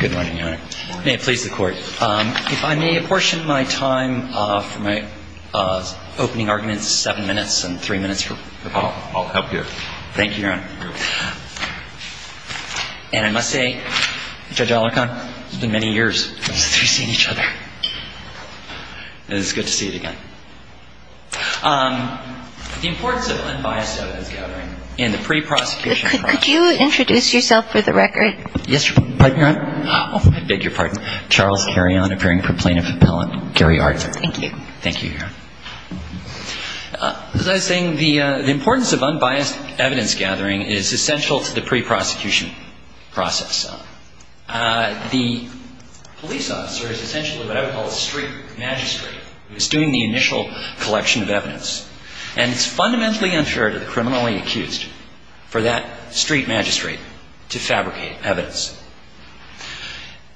Good morning, Your Honor. May it please the Court. If I may apportion my time for my opening arguments, seven minutes and three minutes for Paul, I'll help you. Thank you, Your Honor. And I must say, Judge Olicon, it's been many years since we've seen each other. And it's good to see you again. The importance of unbiased evidence gathering in the pre-prosecution process. Could you introduce yourself for the record? Yes, Your Honor. My name is Eric Holder, Jr. I'm an attorney at the U.S. Supreme Court. And I'm here to talk about the case of Charles Carrion appearing for plaintiff appellant Gary Arter. Thank you. Thank you, Your Honor. As I was saying, the importance of unbiased evidence gathering is essential to the pre-prosecution process. The police officer is essentially what I would call a street magistrate who is doing the initial collection of evidence. And it's fundamentally unfair to the criminally accused for that street magistrate to fabricate evidence.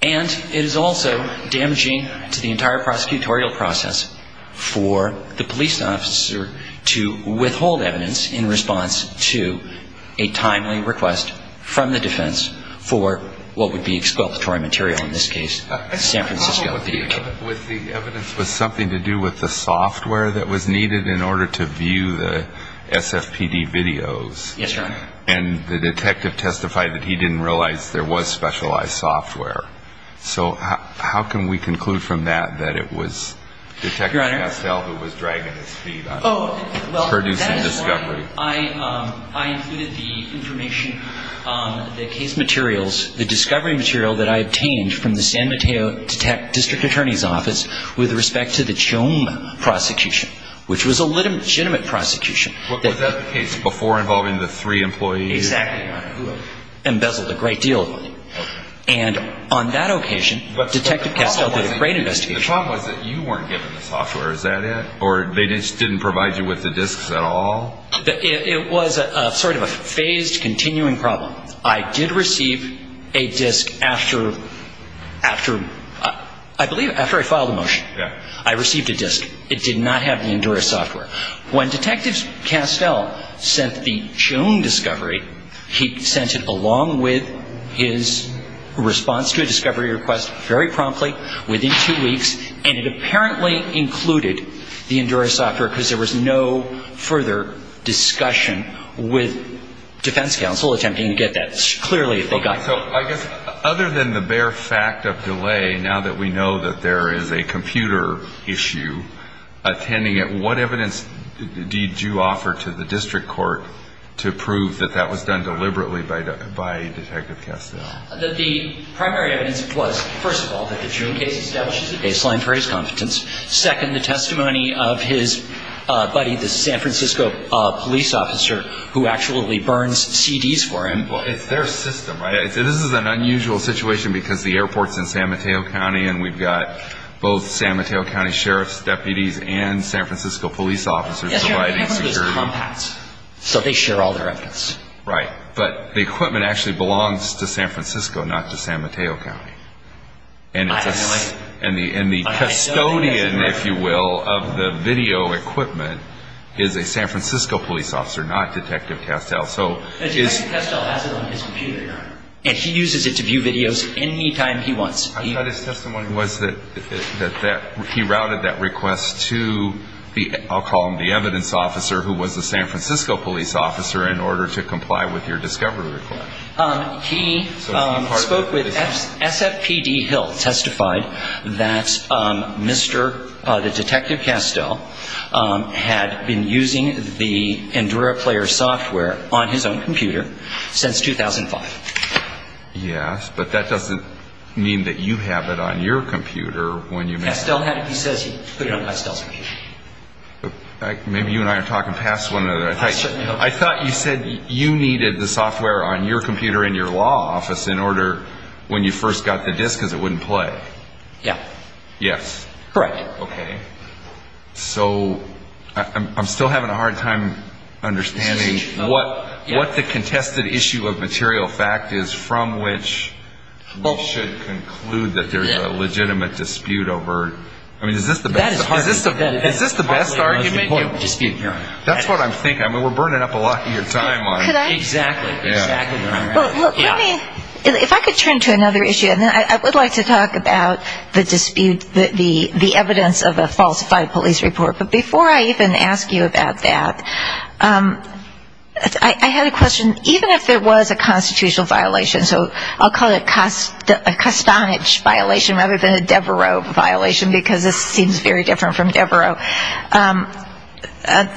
And it is also damaging to the entire prosecutorial process for the police officer to withhold evidence in response to a timely request from the defense for what would be exculpatory material, in this case, San Francisco video tape. The evidence was something to do with the software that was needed in order to view the SFPD videos. Yes, Your Honor. And the detective testified that he didn't realize there was specialized software. So how can we conclude from that that it was Detective Castell who was dragging his feet on producing discovery? Oh, well, that is why I included the information, the case materials, the discovery material that I obtained from the San Mateo District Attorney's Office with respect to the Chome prosecution, which was a legitimate prosecution. Was that the case before involving the three employees? Exactly, Your Honor, who embezzled a great deal of money. And on that occasion, Detective Castell did a great investigation. The problem was that you weren't given the software. Is that it? Or they just didn't provide you with the disks at all? It was sort of a phased, continuing problem. I did receive a disk after, I believe, after I filed a motion. I received a disk. It did not have the Endura software. When Detective Castell sent the Chome discovery, he sent it along with his response to a discovery request very promptly, within two weeks, and it apparently included the Endura software because there was no further discussion with defense counsel attempting to get that. So I guess other than the bare fact of delay, now that we know that there is a computer issue attending it, what evidence did you offer to the district court to prove that that was done deliberately by Detective Castell? That the primary evidence was, first of all, that the Chome case establishes a baseline for his confidence. Second, the testimony of his buddy, the San Francisco police officer, who actually burns CDs for him. Well, it's their system, right? This is an unusual situation because the airport's in San Mateo County, and we've got both San Mateo County sheriffs, deputies, and San Francisco police officers providing security. Yes, Your Honor, they have one of those compacts. So they share all their evidence. Right. But the equipment actually belongs to San Francisco, not to San Mateo County. And the custodian, if you will, of the video equipment is a San Francisco police officer, not Detective Castell. Detective Castell has it on his computer, Your Honor. And he uses it to view videos any time he wants. I thought his testimony was that he routed that request to, I'll call him the evidence officer, who was the San Francisco police officer, in order to comply with your discovery request. He spoke with SFPD Hill, testified that Mr. Detective Castell had been using the EnduraPlayer software on his own computer since 2005. Yes, but that doesn't mean that you have it on your computer. Castell has it. He says he put it on Castell's computer. Maybe you and I are talking past one another. I thought you said you needed the software on your computer in your law office in order, when you first got the disc, because it wouldn't play. Yeah. Yes. Correct. Okay. So I'm still having a hard time understanding what the contested issue of material fact is from which we should conclude that there's a legitimate dispute over. I mean, is this the best argument? That's what I'm thinking. I mean, we're burning up a lot of your time on it. Could I? Exactly. If I could turn to another issue, and then I would like to talk about the dispute, the evidence of a falsified police report. But before I even ask you about that, I had a question. Even if there was a constitutional violation, so I'll call it a Castanich violation rather than a Devereux violation, because this seems very different from Devereux,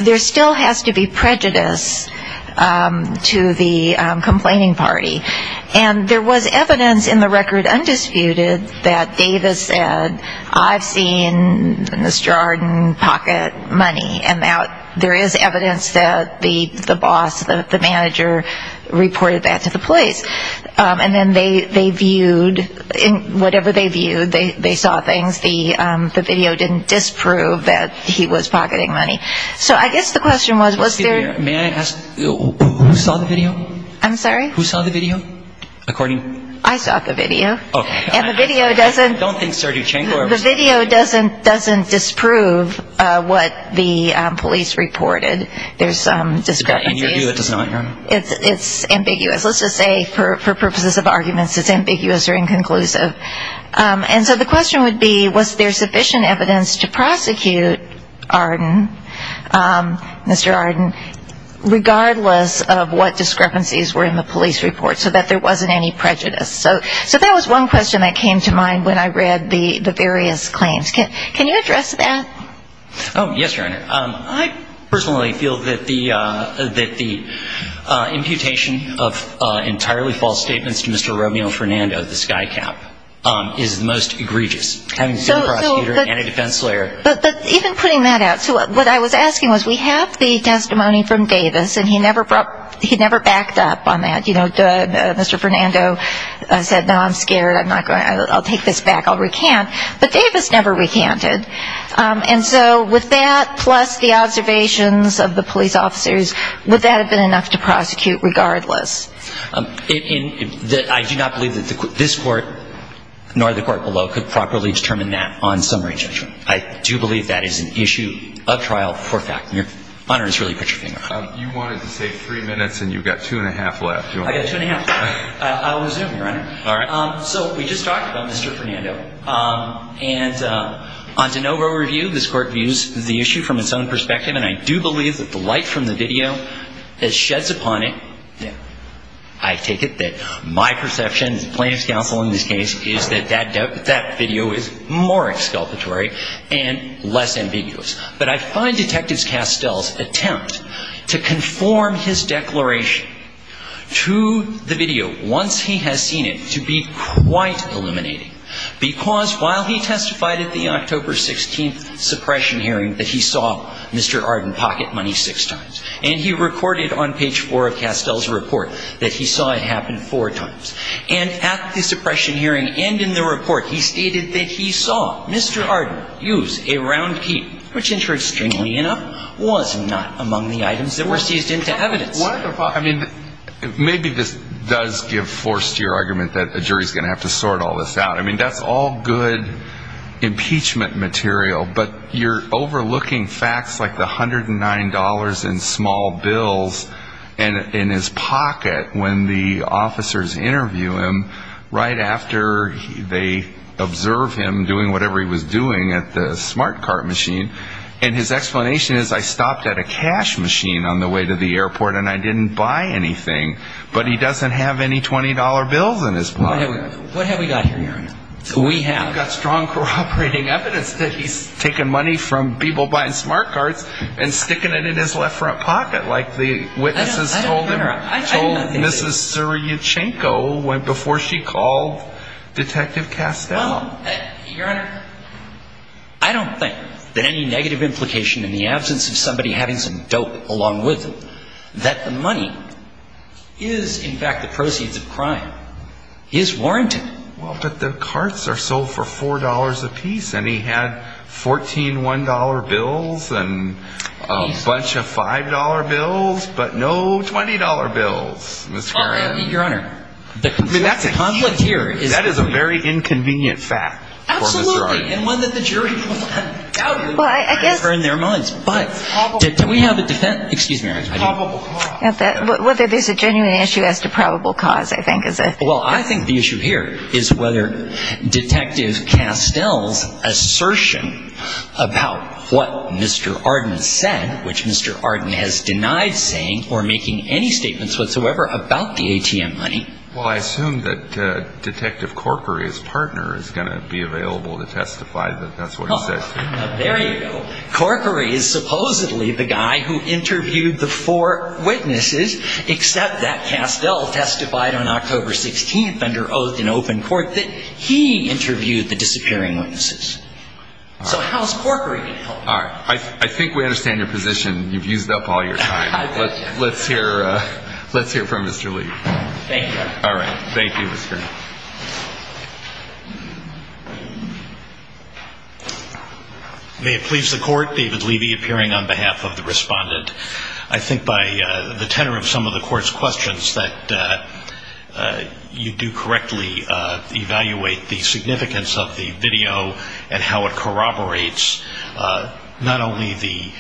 there still has to be prejudice to the complaining party. And there was evidence in the record undisputed that Davis said, I've seen in this jar and pocket money. And there is evidence that the boss, the manager, reported that to the police. And then they viewed, whatever they viewed, they saw things. The video didn't disprove that he was pocketing money. So I guess the question was, was there – May I ask who saw the video? I'm sorry? Who saw the video? According – I saw the video. Okay. And the video doesn't – I don't think Sarduchenko or – The video doesn't disprove what the police reported. There's some discrepancy. In your view, it does not. It's ambiguous. Let's just say, for purposes of arguments, it's ambiguous or inconclusive. And so the question would be, was there sufficient evidence to prosecute Arden, Mr. Arden, regardless of what discrepancies were in the police report so that there wasn't any prejudice? So that was one question that came to mind when I read the various claims. Oh, yes, Your Honor. I personally feel that the imputation of entirely false statements to Mr. Romeo Fernando, the skycap, is the most egregious, having seen a prosecutor and a defense lawyer. But even putting that out – so what I was asking was, we have the testimony from Davis, and he never backed up on that. You know, Mr. Fernando said, no, I'm scared, I'll take this back, I'll recant. But Davis never recanted. And so with that, plus the observations of the police officers, would that have been enough to prosecute regardless? I do not believe that this Court, nor the Court below, could properly determine that on summary judgment. I do believe that is an issue of trial for fact. And Your Honor, just really put your finger on it. You wanted to say three minutes, and you've got two and a half left. I've got two and a half. I'll resume, Your Honor. All right. So we just talked about Mr. Fernando. And on de novo review, this Court views the issue from its own perspective, and I do believe that the light from the video that sheds upon it – I take it that my perception, the plaintiff's counsel in this case, is that that video is more exculpatory and less ambiguous. But I find Detective Castell's attempt to conform his declaration to the video, once he has seen it, to be quite illuminating. Because while he testified at the October 16th suppression hearing that he saw Mr. Arden pocket money six times, and he recorded on page four of Castell's report that he saw it happen four times, and at the suppression hearing and in the report, he stated that he saw Mr. Arden use a round key, which, interestingly enough, was not among the items that were seized into evidence. I mean, maybe this does give force to your argument that a jury is going to have to sort all this out. I mean, that's all good impeachment material, but you're overlooking facts like the $109 in small bills in his pocket when the officers interview him right after they observe him doing whatever he was doing at the smart cart machine. And his explanation is, I stopped at a cash machine on the way to the airport and I didn't buy anything. But he doesn't have any $20 bills in his pocket. What have we got here, Your Honor? We have got strong, corroborating evidence that he's taken money from people buying smart carts and sticking it in his left front pocket like the witnesses told him, told Mrs. Syriachenko before she called Detective Castell. Well, Your Honor, I don't think that any negative implication in the absence of somebody having some dope along with them that the money is, in fact, the proceeds of crime is warranted. Well, but the carts are sold for $4 apiece and he had $14, $1 bills and a bunch of $5 bills, but no $20 bills, Ms. Karan. Your Honor, that's a huge issue. I mean, that's a conflict here. That is a very inconvenient fact for Ms. Syriachenko. Absolutely, and one that the jury will undoubtedly prefer in their minds. But do we have a defense? Excuse me, Your Honor. Probable cause. Whether there's a genuine issue as to probable cause, I think, is a thing. Well, I think the issue here is whether Detective Castell's assertion about what Mr. Arden said, which Mr. Arden has denied saying or making any statements whatsoever about the ATM money. Well, I assume that Detective Corkery's partner is going to be available to testify that that's what he said. There you go. Well, Corkery is supposedly the guy who interviewed the four witnesses, except that Castell testified on October 16th under oath in open court that he interviewed the disappearing witnesses. So how's Corkery being held? All right. I think we understand your position. You've used up all your time. Let's hear from Mr. Lee. Thank you. All right. Thank you, Mr. Lee. May it please the court, David Levy appearing on behalf of the respondent. I think by the tenor of some of the court's questions that you do correctly evaluate the significance of the video and how it corroborates not only the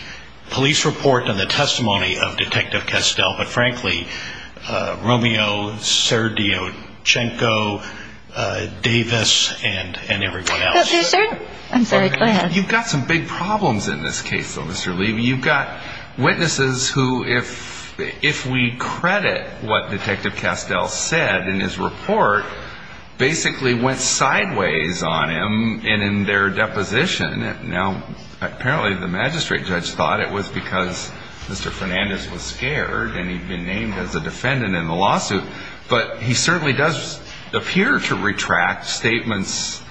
police report and the testimony of Detective Castell, but frankly, Romeo Serdiochenko, Davis, and everyone else. I'm sorry. Go ahead. You've got some big problems in this case, though, Mr. Levy. You've got witnesses who, if we credit what Detective Castell said in his report, basically went sideways on him and in their deposition. Apparently the magistrate judge thought it was because Mr. Fernandez was scared and he'd been named as a defendant in the lawsuit, but he certainly does appear to retract statements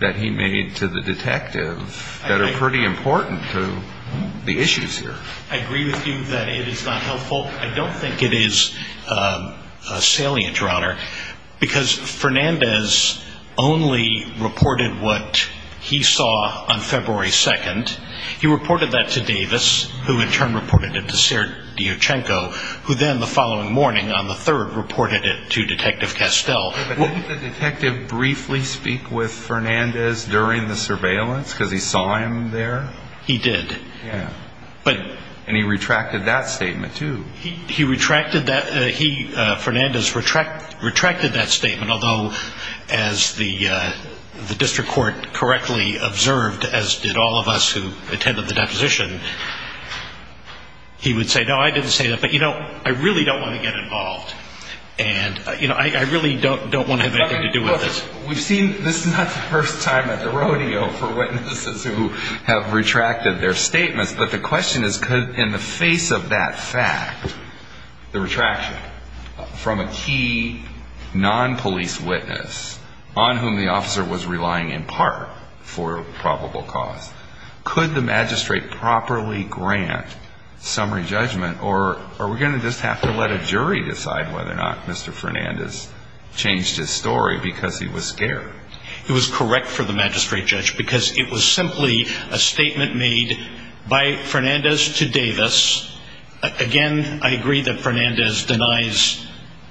that he made to the detective that are pretty important to the issues here. I agree with you that it is not helpful. Because Fernandez only reported what he saw on February 2nd. He reported that to Davis, who in turn reported it to Serdiochenko, who then the following morning on the 3rd reported it to Detective Castell. Didn't the detective briefly speak with Fernandez during the surveillance because he saw him there? He did. And he retracted that statement, too. He retracted that. Fernandez retracted that statement, although, as the district court correctly observed, as did all of us who attended the deposition, he would say, no, I didn't say that, but, you know, I really don't want to get involved. And, you know, I really don't want to have anything to do with this. We've seen this is not the first time at the rodeo for witnesses who have retracted their statements, but the question is could, in the face of that fact, the retraction from a key non-police witness on whom the officer was relying in part for probable cause, could the magistrate properly grant summary judgment or are we going to just have to let a jury decide whether or not Mr. Fernandez changed his story because he was scared? It was correct for the magistrate judge because it was simply a statement made by Fernandez to Davis. Again, I agree that Fernandez denies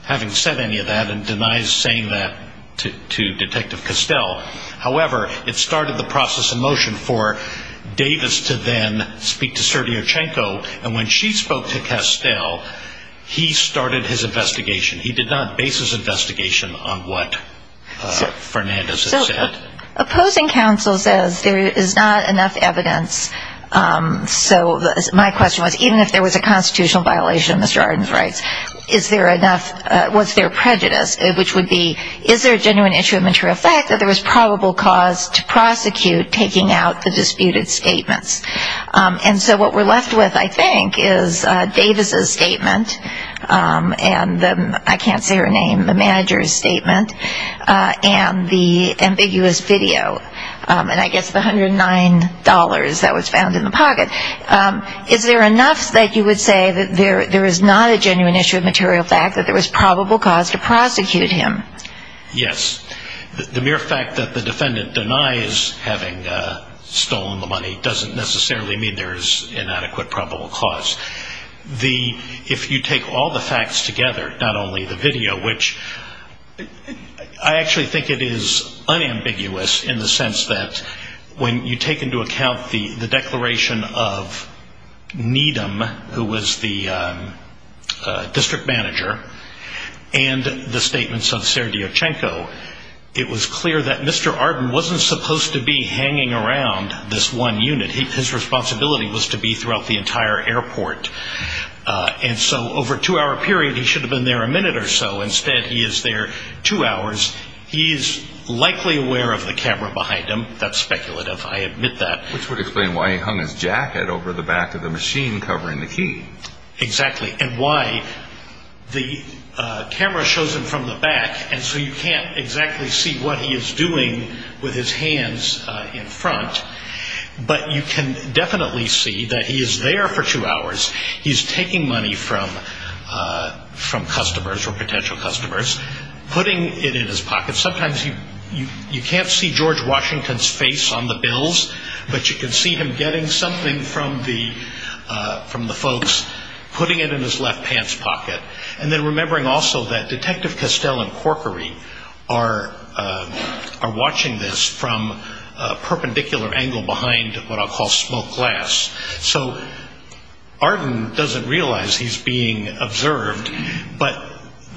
having said any of that and denies saying that to Detective Castell. However, it started the process of motion for Davis to then speak to Sergio Chenko, and when she spoke to Castell, he started his investigation. He did not base his investigation on what Fernandez had said. So opposing counsel says there is not enough evidence. So my question was even if there was a constitutional violation of Mr. Arden's rights, is there enough, was there prejudice, which would be is there a genuine issue of material fact that there was probable cause to prosecute taking out the disputed statements? And so what we're left with, I think, is Davis' statement, and I can't say her name, the manager's statement, and the ambiguous video, and I guess the $109 that was found in the pocket. Is there enough that you would say that there is not a genuine issue of material fact that there was probable cause to prosecute him? Yes. The mere fact that the defendant denies having stolen the money doesn't necessarily mean there is inadequate probable cause. If you take all the facts together, not only the video, which I actually think it is unambiguous in the sense that when you take into account the declaration of Needham, who was the district manager, and the statements of Serdyukchenko, it was clear that Mr. Arden wasn't supposed to be hanging around this one unit. His responsibility was to be throughout the entire airport. And so over a two-hour period, he should have been there a minute or so. Instead, he is there two hours. He is likely aware of the camera behind him. That's speculative. I admit that. Which would explain why he hung his jacket over the back of the machine covering the key. Exactly. And why the camera shows him from the back, and so you can't exactly see what he is doing with his hands in front. But you can definitely see that he is there for two hours. He is taking money from customers or potential customers, putting it in his pocket. Sometimes you can't see George Washington's face on the bills, but you can see him getting something from the folks, putting it in his left pants pocket, and then remembering also that Detective Castell and Corkery are watching this from a perpendicular angle behind what I'll call smoked glass. So Arden doesn't realize he's being observed, but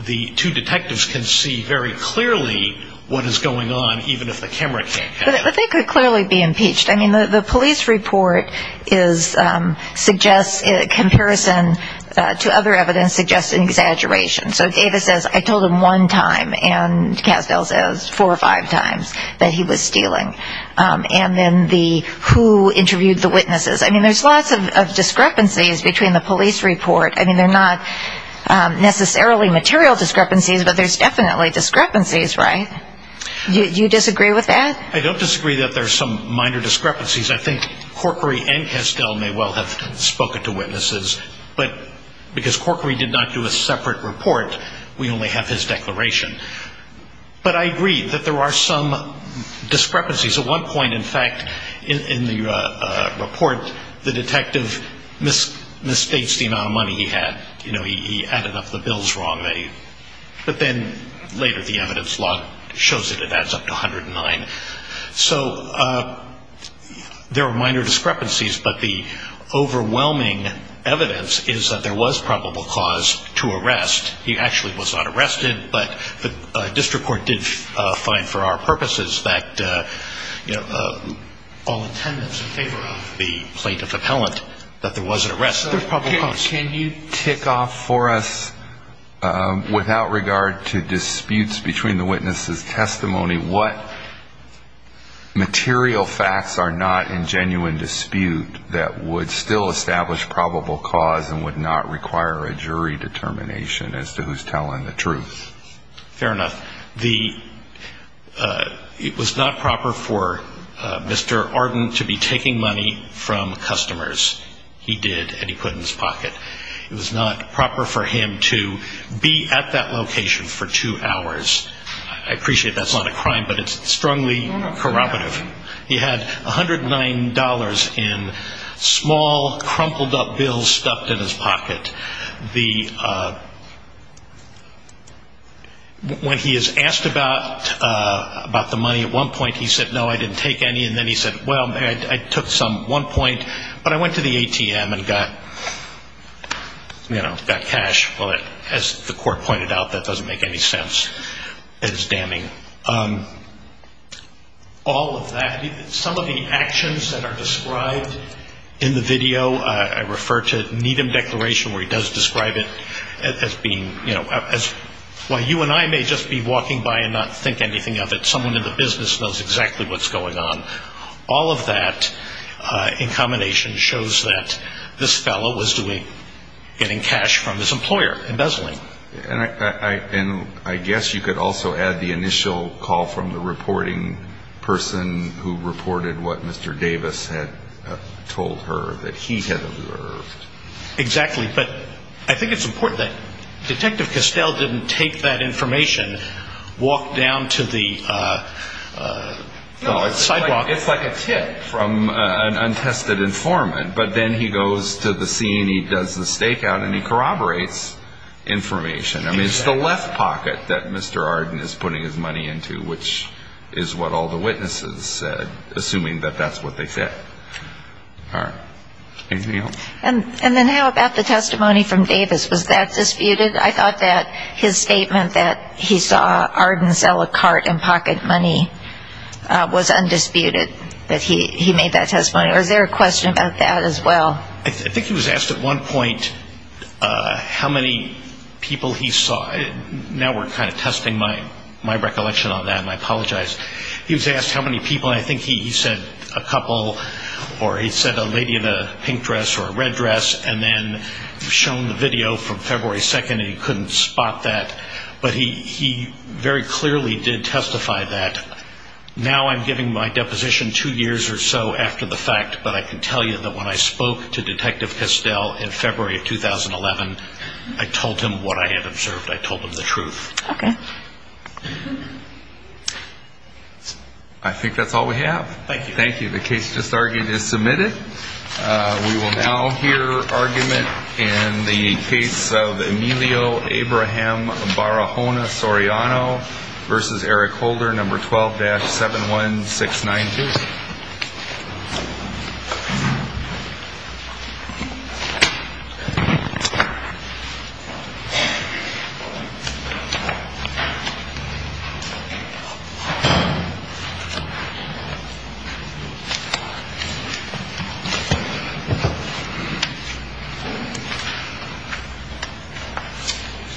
the two detectives can see very clearly what is going on, even if the camera can't catch it. But they could clearly be impeached. I mean, the police report suggests, in comparison to other evidence, suggests an exaggeration. So Ava says, I told him one time, and Castell says four or five times that he was stealing. And then the who interviewed the witnesses. I mean, there's lots of discrepancies between the police report. I mean, they're not necessarily material discrepancies, but there's definitely discrepancies, right? Do you disagree with that? I don't disagree that there's some minor discrepancies. I think Corkery and Castell may well have spoken to witnesses, but because Corkery did not do a separate report, we only have his declaration. But I agree that there are some discrepancies. At one point, in fact, in the report, the detective misstates the amount of money he had. He added up the bills wrong. But then later, the evidence log shows that it adds up to 109. So there are minor discrepancies, but the overwhelming evidence is that there was probable cause to arrest. He actually was not arrested, but the district court did find, for our purposes, that all attendance in favor of the plaintiff appellant, that there was an arrest. Can you tick off for us, without regard to disputes between the witnesses' testimony, what material facts are not in genuine dispute that would still establish probable cause and would not require a jury determination as to who's telling the truth? Fair enough. It was not proper for Mr. Arden to be taking money from customers. He did, and he put it in his pocket. It was not proper for him to be at that location for two hours. I appreciate that's not a crime, but it's strongly corroborative. He had $109 in small, crumpled-up bills stuffed in his pocket. When he is asked about the money, at one point he said, no, I didn't take any. And then he said, well, I took some at one point, but I went to the ATM and got cash. Well, as the court pointed out, that doesn't make any sense. It is damning. All of that, some of the actions that are described in the video, I refer to Needham Declaration where he does describe it as being, you know, while you and I may just be walking by and not think anything of it, someone in the business knows exactly what's going on. All of that, in combination, shows that this fellow was getting cash from this employer, embezzling. And I guess you could also add the initial call from the reporting person who reported what Mr. Davis had told her that he had observed. Exactly, but I think it's important that Detective Castell didn't take that information, and walk down to the sidewalk. No, it's like a tip from an untested informant. But then he goes to the scene, he does the stakeout, and he corroborates information. I mean, it's the left pocket that Mr. Arden is putting his money into, which is what all the witnesses said, assuming that that's what they said. All right, anything else? And then how about the testimony from Davis? Was that disputed? I thought that his statement that he saw Arden sell a cart in pocket money was undisputed, that he made that testimony. Was there a question about that as well? I think he was asked at one point how many people he saw. Now we're kind of testing my recollection on that, and I apologize. He was asked how many people, and I think he said a couple, or he said a lady in a pink dress or a red dress, and then shown the video from February 2nd, and he couldn't spot that. But he very clearly did testify that. Now I'm giving my deposition two years or so after the fact, but I can tell you that when I spoke to Detective Kistel in February of 2011, I told him what I had observed. I told him the truth. Okay. I think that's all we have. Thank you. Thank you. The case just argued is submitted. We will now hear argument in the case of Emilio Abraham Barahona Soriano versus Eric Holder, number 12-71692.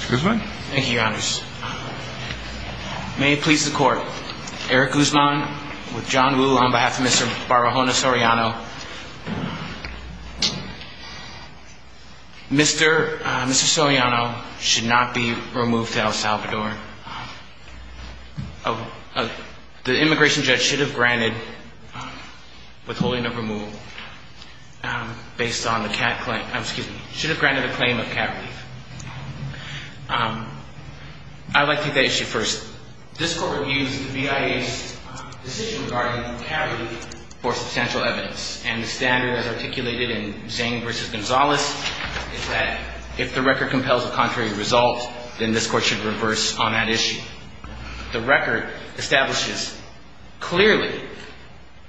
Mr. Guzman. Thank you, Your Honors. May it please the Court. Eric Guzman with John Woo on behalf of Mr. Barahona Soriano. Mr. Soriano should not be removed to El Salvador. The immigration judge should have granted withholding of removal. Should have granted a claim of cavity. I'd like to take that issue first. This Court reviews the BIA's decision regarding cavity for substantial evidence, and the standard as articulated in Zane versus Gonzales is that if the record compels a contrary result, then this Court should reverse on that issue. The record establishes clearly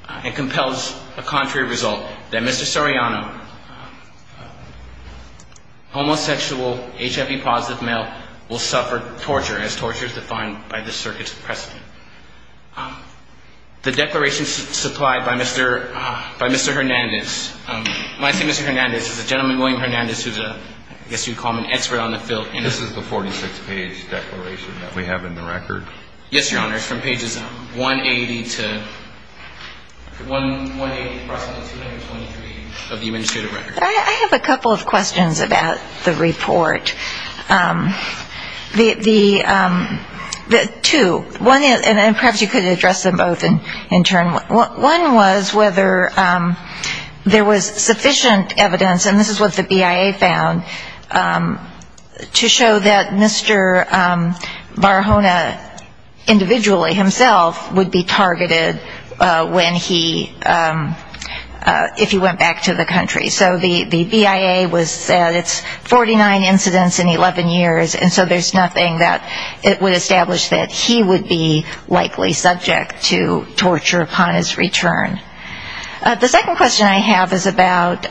and compels a contrary result, that Mr. Soriano, homosexual, HIV-positive male, will suffer torture, as torture is defined by the circuit's precedent. The declaration supplied by Mr. Hernandez, I see Mr. Hernandez is a gentleman, William Hernandez, who's a, I guess you'd call him an expert on the field. This is the 46-page declaration that we have in the record? Yes, Your Honors, from pages 180 to, 180 to approximately 223 of the administrative record. I have a couple of questions about the report. The two, one is, and perhaps you could address them both in turn. One was whether there was sufficient evidence, and this is what the BIA found, to show that Mr. Barahona individually himself would be targeted when he, if he went back to the country. So the BIA was, it's 49 incidents in 11 years, and so there's nothing that it would establish that he would be likely subject to torture upon his return. The second question I have is about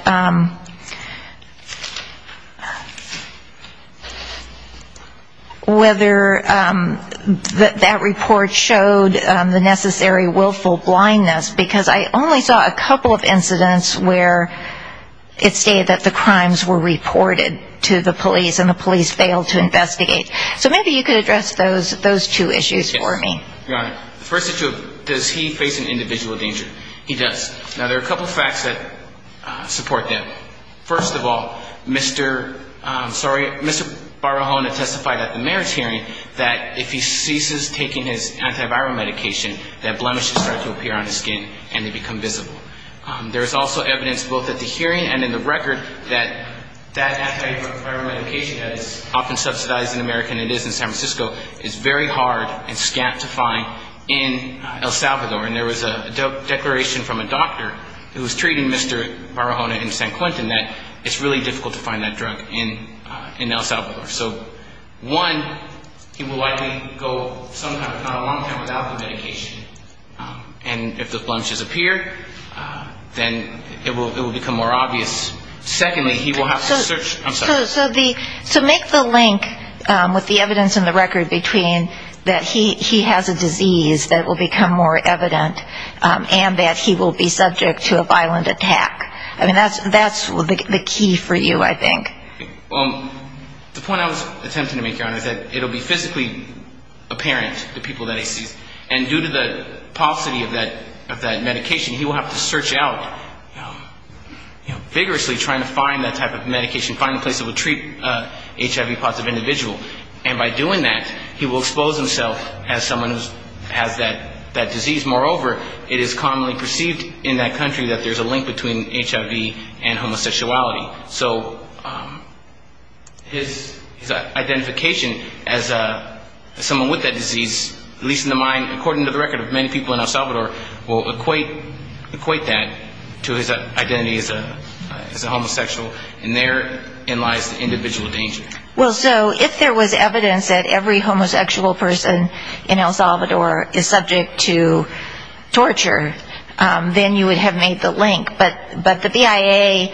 whether that report showed the necessary willful blindness, because I only saw a couple of incidents where it stated that the crimes were reported to the police, and the police failed to investigate. So maybe you could address those two issues for me. Your Honor, the first issue, does he face an individual danger? He does. Now, there are a couple of facts that support that. First of all, Mr. Barahona testified at the mayor's hearing that if he ceases taking his antiviral medication, that blemishes start to appear on his skin and they become visible. There's also evidence both at the hearing and in the record that that antiviral medication, that is often subsidized in America and it is in San Francisco, is very hard and scant to find in El Salvador. And there was a declaration from a doctor who was treating Mr. Barahona in San Quentin that it's really difficult to find that drug in El Salvador. So one, he will likely go some time, not a long time, without the medication. And if the blemishes appear, then it will become more obvious. Secondly, he will have to search. I'm sorry. So make the link with the evidence in the record between that he has a disease that will become more evident and that he will be subject to a violent attack. I mean, that's the key for you, I think. Well, the point I was attempting to make, Your Honor, is that it will be physically apparent to people that he sees. And due to the paucity of that medication, he will have to search out vigorously trying to find that type of medication, find a place that would treat HIV-positive individuals. And by doing that, he will expose himself as someone who has that disease. Moreover, it is commonly perceived in that country that there's a link between HIV and homosexuality. So his identification as someone with that disease, at least in the mind, according to the record of many people in El Salvador, will equate that to his identity as a homosexual. And therein lies the individual danger. Well, so if there was evidence that every homosexual person in El Salvador is subject to torture, then you would have made the link. But the BIA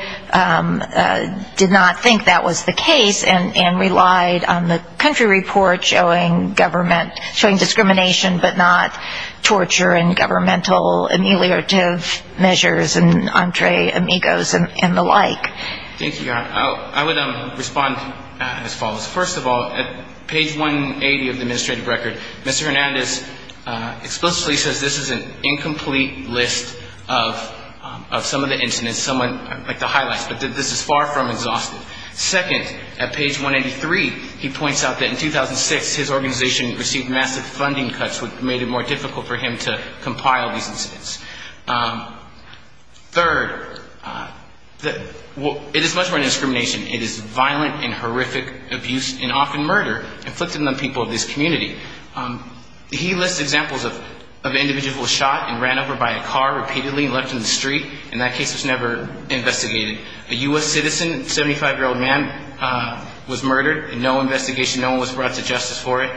did not think that was the case and relied on the country report showing government, showing discrimination, but not torture and governmental ameliorative measures and entre amigos and the like. Thank you, Your Honor. I would respond as follows. First of all, at page 180 of the administrative record, Mr. Hernandez explicitly says this is an incomplete list of some of the incidents, some of the highlights, but this is far from exhaustive. Second, at page 183, he points out that in 2006, his organization received massive funding cuts, which made it more difficult for him to compile these incidents. Third, it is much more than discrimination. It is violent and horrific abuse and often murder, inflicted on the people of this community. He lists examples of individuals who were shot and ran over by a car repeatedly and left in the street, and that case was never investigated. A U.S. citizen, 75-year-old man, was murdered, and no investigation, no one was brought to justice for it.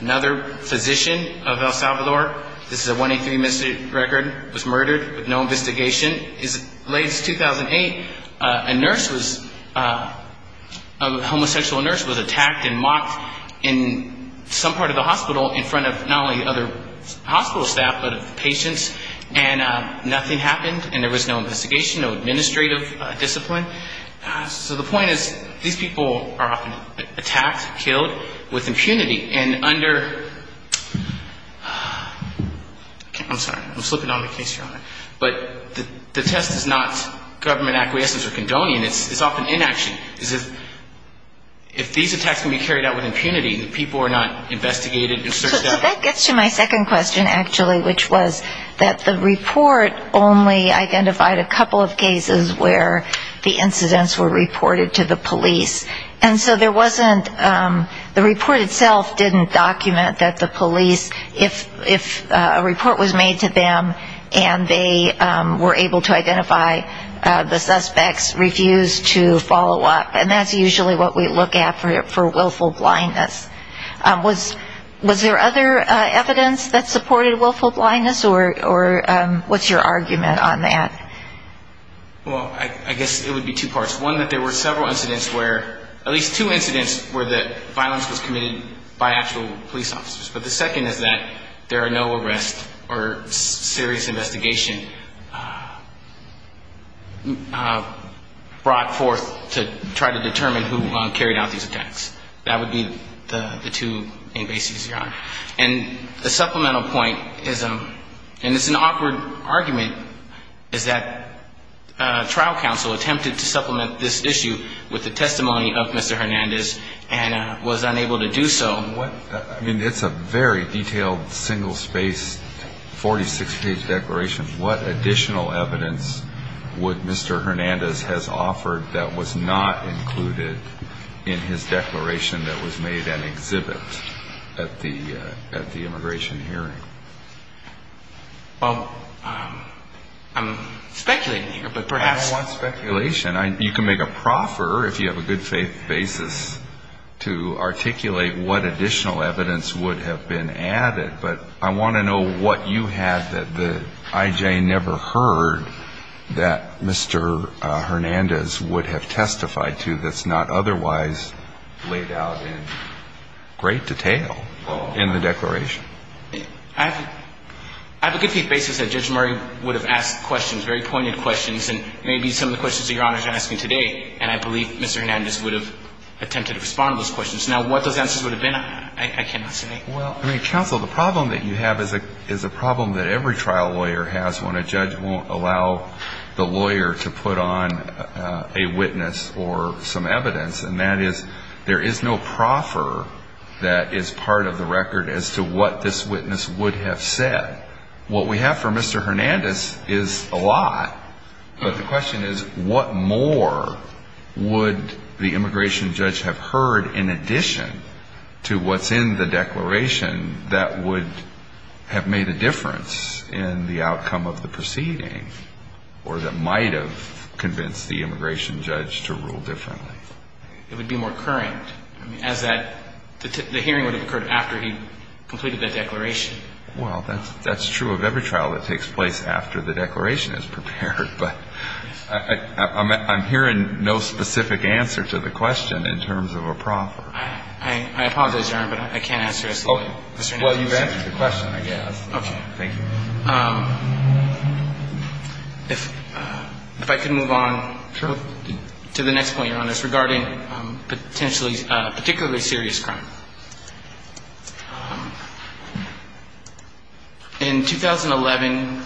Another physician of El Salvador, this is a 183 missing record, was murdered with no investigation. Latest, 2008, a nurse was, a homosexual nurse was attacked and mocked in some part of the hospital in front of not only other hospital staff, but patients, and nothing happened, and there was no investigation, no administrative discipline. So the point is, these people are often attacked, killed, with impunity, and under, I'm sorry, I'm slipping on the case here, but the test is not government acquiescence or condoning, it's often inaction. If these attacks can be carried out with impunity, the people are not investigated and searched out. So that gets to my second question, actually, which was that the report only identified a couple of cases where the incidents were reported to the police, and so there wasn't, the report itself didn't document that the police, if a report was made to them, and they were able to identify the suspects, refused to follow up, and that's usually what we look at for willful blindness. Was there other evidence that supported willful blindness, or what's your argument on that? Well, I guess it would be two parts. One, that there were several incidents where, at least two incidents where the violence was committed by actual police officers, but the second is that there are no arrests or serious investigation brought forth to try to determine who carried out these attacks. That would be the two main bases you're on. And the supplemental point is, and it's an awkward argument, is that the police are not responsible for the attacks. That trial counsel attempted to supplement this issue with the testimony of Mr. Hernandez and was unable to do so. I mean, it's a very detailed, single-spaced, 46-page declaration. What additional evidence would Mr. Hernandez have offered that was not included in his declaration that was made an exhibit at the immigration hearing? Well, I'm speculating here, but perhaps... I don't want speculation. You can make a proffer, if you have a good faith basis, to articulate what additional evidence would have been added, but I want to know what you had that the I.J. never heard that Mr. Hernandez would have testified to that's not otherwise laid out in great detail in the declaration. I have a good faith basis that Judge Murray would have asked questions, very pointed questions, and maybe some of the questions that Your Honor is asking today, and I believe Mr. Hernandez would have attempted to respond to those questions. Now, what those answers would have been, I cannot say. Well, counsel, the problem that you have is a problem that every trial lawyer has when a judge won't allow the lawyer to put on a witness or some evidence, and that is there is no proffer that is part of the record as to what this witness would have said. What we have from Mr. Hernandez is a lot, but the question is what more would the immigration judge have heard in addition to what's in the declaration that would have made a difference in the outcome of the proceeding, or that might have convinced the judge to rule differently? It would be more current, as that the hearing would have occurred after he completed that declaration. Well, that's true of every trial that takes place after the declaration is prepared, but I'm hearing no specific answer to the question in terms of a proffer. I apologize, Your Honor, but I can't answer this. Well, you've answered the question, I guess. Thank you. If I could move on to the next point, Your Honor, it's regarding potentially particularly serious crime. In 2011,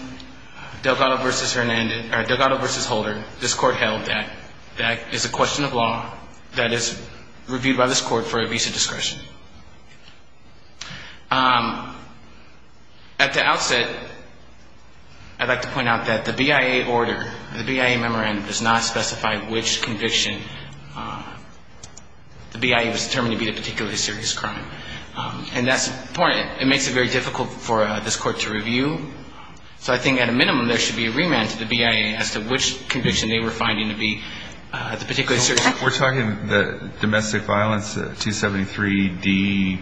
Delgado v. Holder, this Court held that that is a question of law that is reviewed by this Court for evasive discretion. At the outset, I'd like to point out that the BIA order, the BIA memorandum does not specify which conviction the BIA was determined to be a particularly serious crime, and that's important. It makes it very difficult for this Court to review. So I think at a minimum there should be a remand to the BIA as to which conviction they were finding to be the particularly serious crime. We're talking domestic violence, 273D,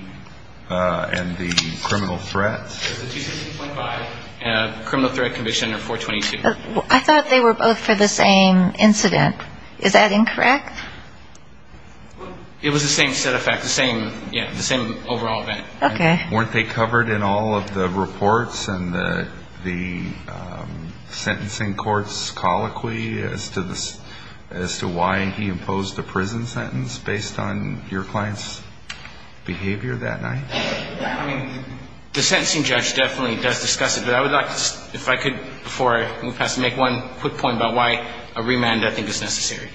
and the criminal threat. The 265.5 and the criminal threat conviction are 422. I thought they were both for the same incident. Is that incorrect? It was the same set of facts, the same overall event. Okay. Were they covered in all of the reports and the sentencing court's colloquy as to why he imposed a prison sentence based on your client's behavior that night? I mean, the sentencing judge definitely does discuss it, but I would like to, if I could, before I move past, make one quick point about why a remand I think is necessary.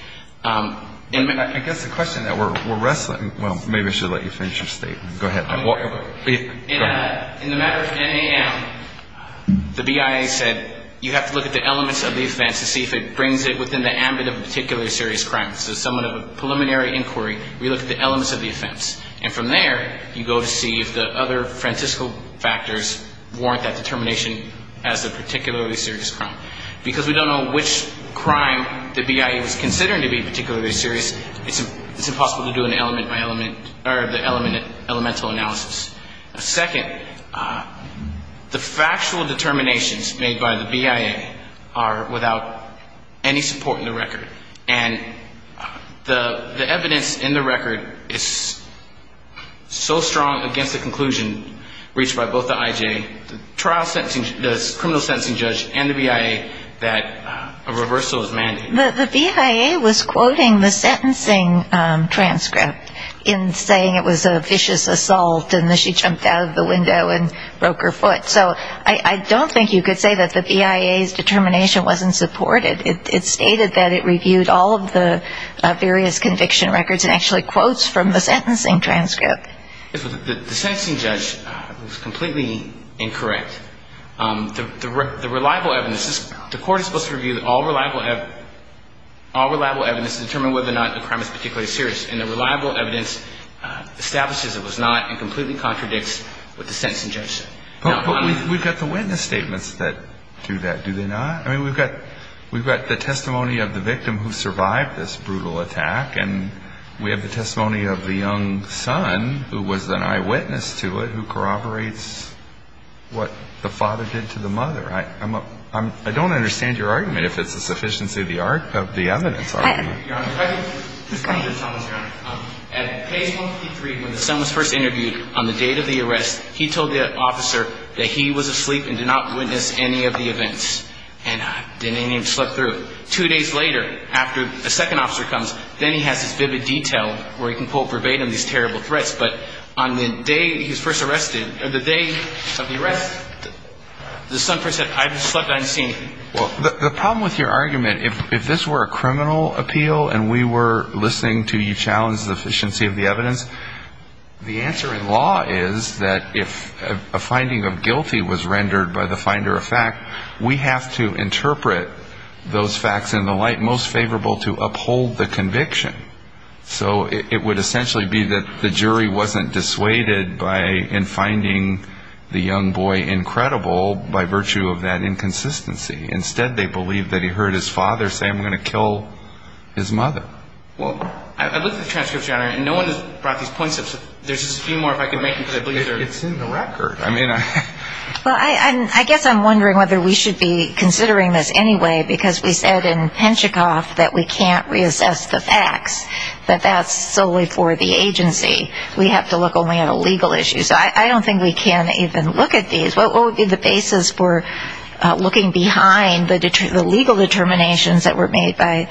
I guess the question that we're wrestling, well, maybe I should let you finish your statement. Go ahead. In the matter of NAM, the BIA said you have to look at the elements of the offense to see if it brings it within the ambit of a particularly serious crime. This is somewhat of a preliminary inquiry where you look at the elements of the offense. And from there, you go to see if the other Francisco factors warrant that determination as the particularly serious crime. Because we don't know which crime the BIA was considering to be particularly serious, it's impossible to do an element-by-element, or the element-by-element analysis. Second, the factual determinations made by the BIA are without any support in the record. And the evidence in the record is so strong against the conclusion reached by both the IJ, the criminal sentencing judge, and the BIA that a reversal is mandated. The BIA was quoting the sentencing transcript in saying it was a vicious assault and that she jumped out of the window and broke her foot. So I don't think you could say that the BIA's determination wasn't supported. It stated that it reviewed all of the various conviction records and actually quotes from the sentencing transcript. The sentencing judge was completely incorrect. The reliable evidence, the court is supposed to review all reliable evidence to determine whether or not the crime is particularly serious. And the reliable evidence establishes it was not and completely contradicts what the sentencing judge said. But we've got the witness statements that do that, do they not? I mean, we've got the testimony of the victim who survived this brutal attack, and we have the testimony of the young son who was an eyewitness to it, who corroborates what the father did to the mother. I don't understand your argument, if it's the sufficiency of the evidence argument. Your Honor, if I could just come to the summons, Your Honor. At case 153, when the son was first interviewed, on the date of the arrest, he told the officer that he was asleep and did not witness any of the events. And didn't even slip through. Two days later, after the second officer comes, then he has this vivid detail where he can quote verbatim these terrible threats. But on the day he was first arrested, on the day of the arrest, the son first said, I've slept unseen. Well, the problem with your argument, if this were a criminal appeal and we were listening to you challenge the sufficiency of the evidence, the answer in law is that if a finding of guilty was rendered by the finder of fact, we have to interpret those findings. We have to interpret those facts in the light most favorable to uphold the conviction. So it would essentially be that the jury wasn't dissuaded in finding the young boy incredible by virtue of that inconsistency. Instead, they believe that he heard his father say, I'm going to kill his mother. Well, I looked at the transcripts, Your Honor, and no one has brought these points up, so there's just a few more if I could make them. It's in the record. Well, I guess I'm wondering whether we should be considering this anyway, because we said in Penchikoff that we can't reassess the facts, but that's solely for the agency. We have to look only at a legal issue, so I don't think we can even look at these. What would be the basis for looking behind the legal determinations that were made by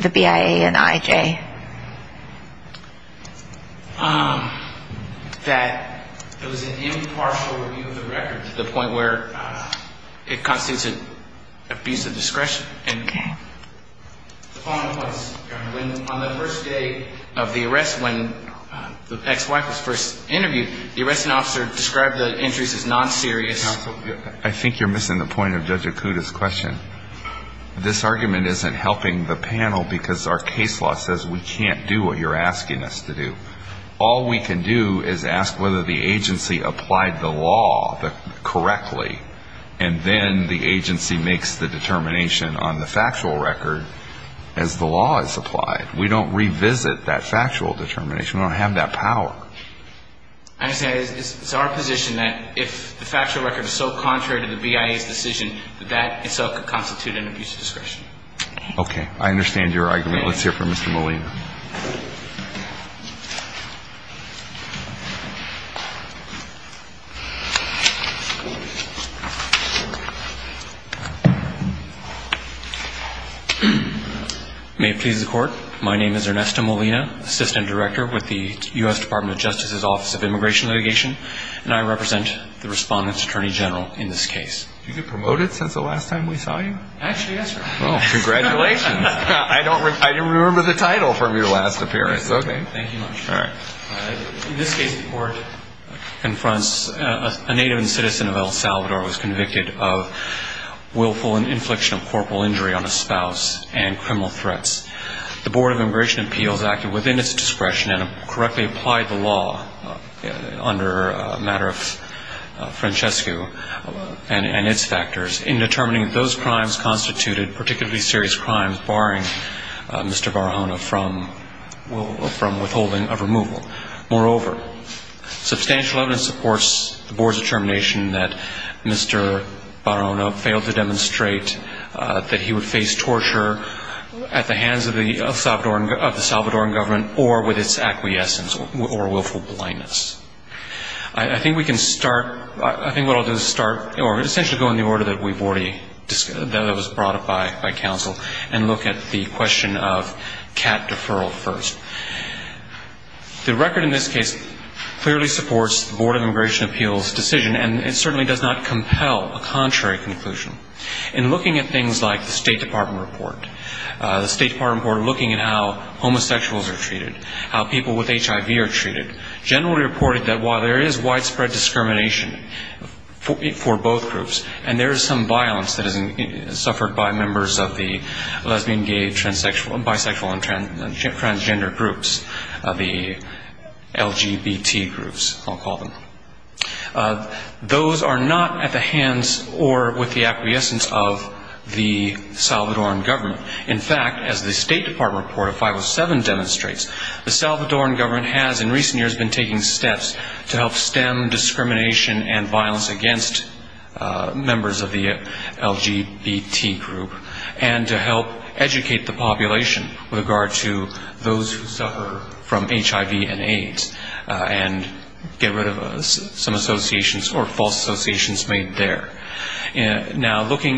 the BIA and IJ? That it was an impartial review of the record to the point where it constitutes an abuse of discretion. The following points, Your Honor. On the first day of the arrest when the ex-wife was first interviewed, the arresting officer described the injuries as non-serious. I think you're missing the point of Judge Akuta's question. This argument isn't helping the panel because our case law says we can't do what you're asking us to do. All we can do is ask whether the agency applied the law correctly, and then the agency makes the determination on the factual record as the law is applied. We don't revisit that factual determination. We don't have that power. I say it's our position that if the factual record is so contrary to the BIA's decision, that that in itself could constitute an abuse of discretion. Okay. I understand your argument. Let's hear from Mr. Molina. May it please the Court. My name is Ernesto Molina, Assistant Director with the U.S. Department of Justice's Office of Immigration Litigation, and I represent the Respondent's Attorney General in this case. Did you get promoted since the last time we saw you? Actually, yes, sir. Oh, congratulations. I didn't remember the title from your last appearance. Okay. Thank you much. In this case, the Court confronts a native and citizen of El Salvador who was convicted of willful and infliction of corporal injury on a spouse and criminal threats. The Board of Immigration Appeals acted within its discretion and correctly applied the law under a matter of Francesco and its factors in determining that those crimes constituted particularly serious crimes, barring Mr. Barahona from withholding a removal. Moreover, substantial evidence supports the Board's determination that Mr. Barahona failed to demonstrate that he would face torture at the hands of his wife, at the hands of the Salvadoran government, or with its acquiescence or willful blindness. I think we can start, I think what I'll do is start, or essentially go in the order that we've already, that was brought up by counsel, and look at the question of cat deferral first. The record in this case clearly supports the Board of Immigration Appeals decision, and it certainly does not compel a contrary conclusion. In looking at things like the State Department report, the State Department report looking at how homosexuals are treated, how people with HIV are treated, generally reported that while there is widespread discrimination for both groups, and there is some violence that is suffered by members of the lesbian, gay, bisexual, and transgender groups, the LGBT groups, I'll call them, those are not at the hands or with the acquiescence or willful blindness of the Salvadoran government. In fact, as the State Department report of 507 demonstrates, the Salvadoran government has in recent years been taking steps to help stem discrimination and violence against members of the LGBT group, and to help educate the population with regard to those who suffer from HIV and AIDS, and get rid of some associations or false associations made there. Now, looking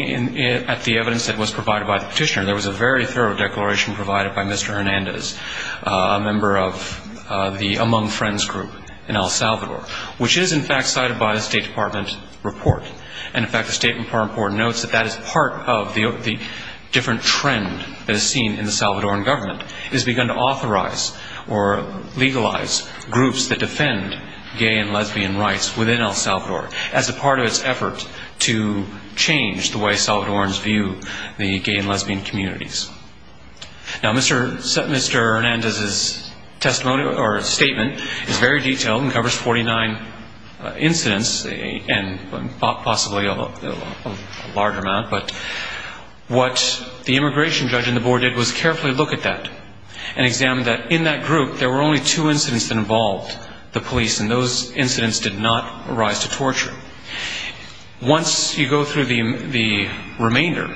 at the evidence that was provided by the petitioner, there was a very thorough declaration provided by Mr. Hernandez, a member of the Among Friends group in El Salvador, which is, in fact, cited by the State Department report. And, in fact, the State Department report notes that that is part of the different trend that is seen in the Salvadoran government, is begun to change the way Salvadorans view the gay and lesbian communities. Now, Mr. Hernandez's testimony or statement is very detailed and covers 49 incidents, and possibly a large amount, but what the immigration judge and the board did was carefully look at that, and examine that in that group there were only two incidents that involved the police, and those did not arise to torture. Once you go through the remainder,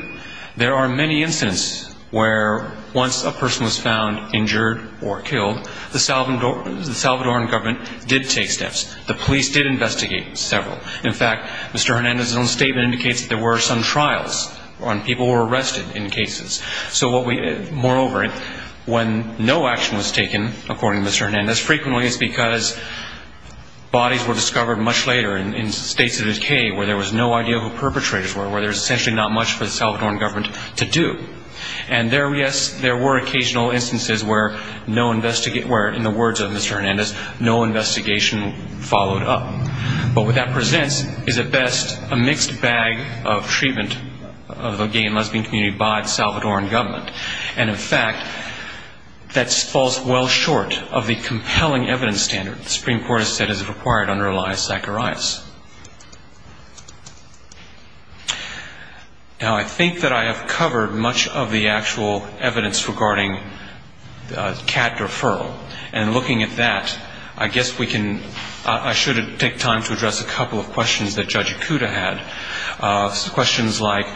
there are many incidents where once a person was found injured or killed, the Salvadoran government did take steps. The police did investigate several. In fact, Mr. Hernandez's own statement indicates that there were some trials on people who were arrested in cases. So what we, moreover, when no action was taken, according to Mr. Hernandez, frequently it's because bodies were moved to the grave. And as I said, there were instances, much later, in states of decay, where there was no idea who the perpetrators were, where there was essentially not much for the Salvadoran government to do. And there were, yes, there were occasional instances where, in the words of Mr. Hernandez, no investigation followed up. But what that presents is at best a mixed bag of treatment of the gay and lesbian community by the Salvadoran government. And, in fact, that does not arise. Now, I think that I have covered much of the actual evidence regarding cat referral. And looking at that, I guess we can, I should take time to address a couple of questions that Judge Ikuda had, questions like,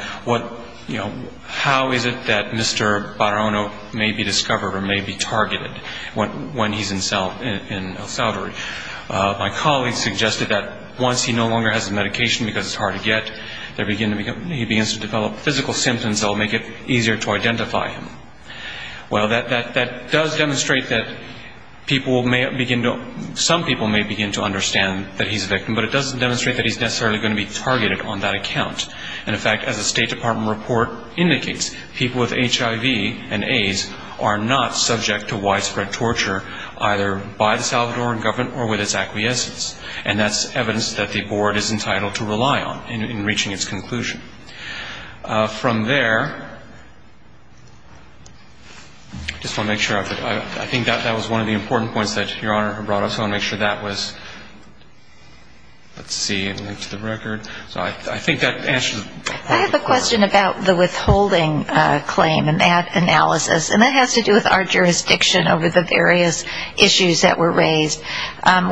you know, how is it that Mr. Barrono may be discovered or may be targeted when he's in El Salvador. My colleague suggested that once he no longer has the medication because it's hard to get, he begins to develop physical symptoms that will make it easier to identify him. Well, that does demonstrate that people may begin to, some people may begin to understand that he's a victim, but it doesn't demonstrate that he's necessarily going to be targeted on that account. And, in fact, as the State Department report indicates, people with HIV and AIDS are not subject to widespread torture either by the Salvadoran government or with its acquiescence. And that's evidence that the Board is entitled to rely on in reaching its conclusion. From there, I just want to make sure, I think that was one of the important points that Your Honor brought up. So I want to make sure that was, let's see, to the record. So I think that answers part of the question. I have a question about the withholding claim and that analysis. And that has to do with our jurisdiction over the various issues that were raised.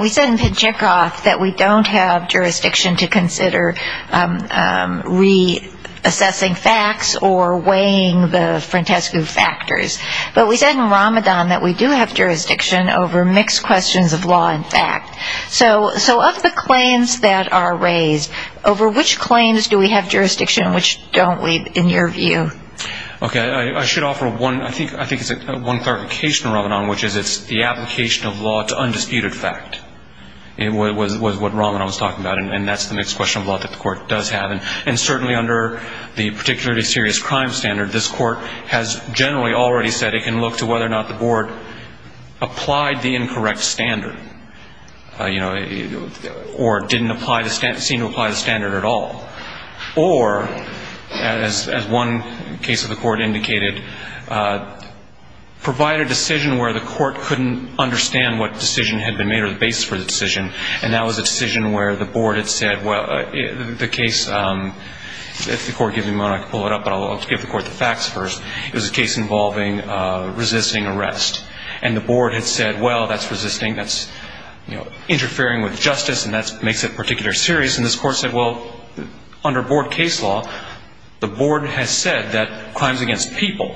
We said in Pijekoff that we don't have jurisdiction to consider re-assessing facts or weighing the Frantescu factors. But we said in Ramadan that we do have jurisdiction over mixed questions of law and fact. So of the claims that are raised, over which claims do we have jurisdiction and which don't? In your view. Okay. I should offer one, I think it's one clarification, Ramadan, which is it's the application of law to undisputed fact was what Ramadan was talking about. And that's the mixed question of law that the Court does have. And certainly under the particularly serious crime standard, this Court has generally already said it can look to whether or not the Board applied the incorrect standard. You know, or didn't seem to apply the standard at all. Or, as one case of the Court indicated, provide a decision where the Court couldn't understand what decision had been made or the basis for the decision. And that was a decision where the Board had said, well, the case, if the Court gives me a moment I can pull it up, but I'll give the Court the facts first. It was a case involving resisting arrest. And the Board had said, well, that's resisting, that's interfering with justice, and that makes it particularly serious. And this Court said, well, under Board case law, the Board has said that crimes against people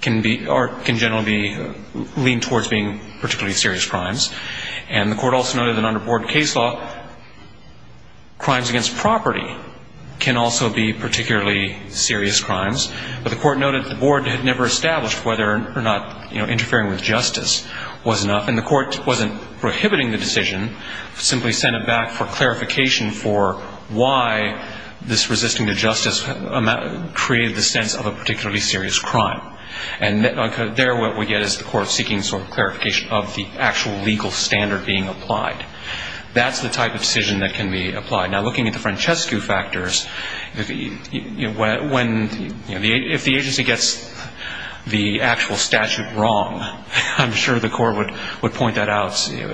can be, or can generally be leaned towards being particularly serious crimes. And the Court also noted that under Board case law, crimes against property can also be particularly serious crimes. But the Court noted the Board had never established whether or not, you know, interfering with justice was enough. And the Court wasn't prohibiting the decision. It simply sent it back for clarification for why this resisting to justice created the sense of a particularly serious crime. And there what we get is the Court seeking sort of clarification of the actual legal standard being applied. That's the type of decision that can be applied. Now, looking at the Francescu factors, you know, when, you know, if the agency gets the actual statute wrong, I'm sure the Court would point that out. You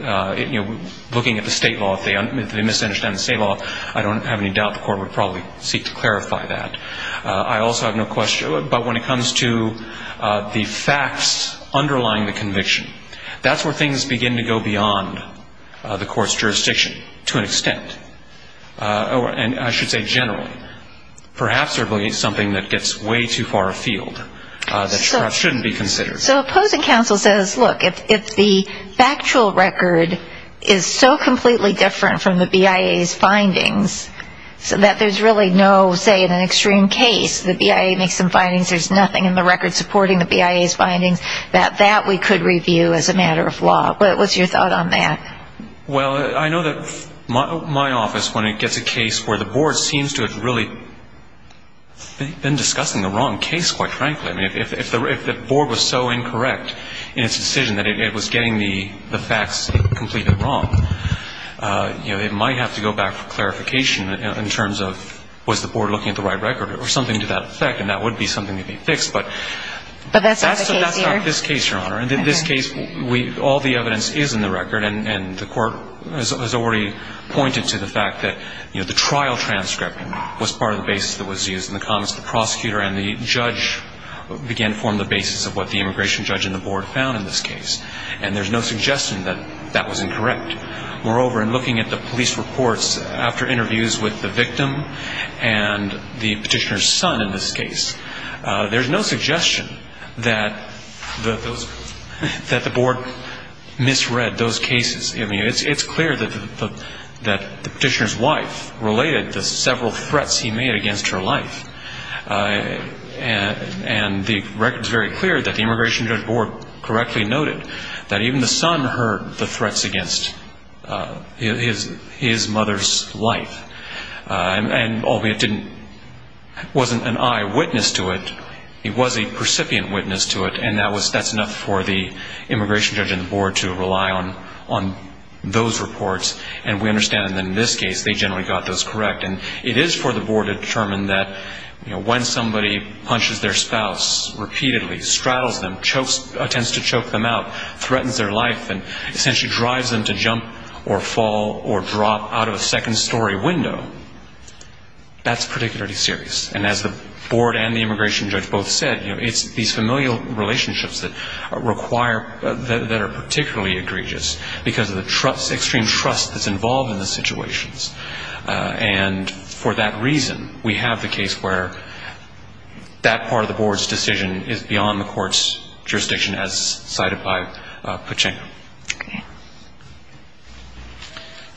know, looking at the State law, if they misunderstand the State law, I don't have any doubt the Court would probably seek to clarify that. I also have no question, but when it comes to the facts underlying the conviction, that's where things begin to go wrong. And I should say generally. Perhaps there will be something that gets way too far afield that perhaps shouldn't be considered. So opposing counsel says, look, if the factual record is so completely different from the BIA's findings, so that there's really no, say, in an extreme case, the BIA makes some findings, there's nothing in the record supporting the BIA's findings, that that we could review as a case. But if the BIA is so incorrect in its decision that it was getting the facts completely wrong, you know, it might have to go back for clarification in terms of was the Board looking at the right record or something to that effect, and that would be something to be fixed. But that's not the case here. I mean, the fact that the trial transcript was part of the basis that was used in the comments of the prosecutor and the judge began to form the basis of what the immigration judge and the Board found in this case. And there's no suggestion that that was incorrect. Moreover, in looking at the police reports after interviews with the victim and the petitioner's son in this case, there's no suggestion that the Board misread those cases. I mean, it's clear that the petitioner's wife related the several threats he made against her life. And the record is very clear that the immigration judge and the Board correctly noted that even the son heard the threats against his mother's life. And albeit didn't, wasn't an eyewitness to it, he was a recipient witness to it, and that's enough for the immigration judge and the Board to determine that those reports, and we understand that in this case, they generally got those correct. And it is for the Board to determine that when somebody punches their spouse repeatedly, straddles them, tends to choke them out, threatens their life and essentially drives them to jump or fall or drop out of a second-story window, that's particularly serious. And as the Board and the immigration judge both said, it's these familial relationships that require, that are particularly egregious because of the extreme trust that's involved in the situations. And for that reason, we have the case where that part of the Board's decision is beyond the Court's jurisdiction as cited by Pachinko.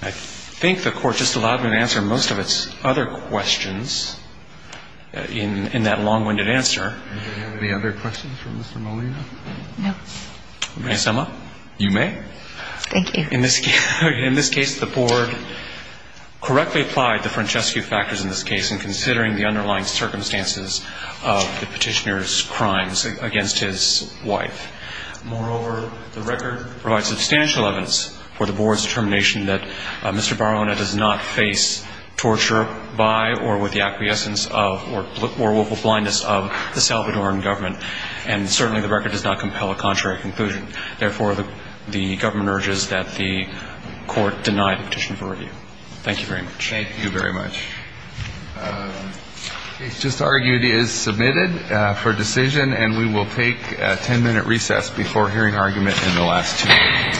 I think the Court just allowed me to answer most of its other questions in that long-winded answer. Do we have any other questions for Mr. Molina? No. May I sum up? You may. Thank you. In this case, the Board correctly applied the Francescu factors in this case in considering the underlying circumstances of the petitioner's crimes against his wife. Moreover, the record provides substantial evidence for the Board's determination that Mr. Barona does not face a criminal charge, and therefore, the Board does not compel a contrary conclusion. Therefore, the government urges that the Court deny the petition for review. Thank you very much. Thank you very much. The case just argued is submitted for decision, and we will take a ten-minute recess before hearing argument in the last two minutes.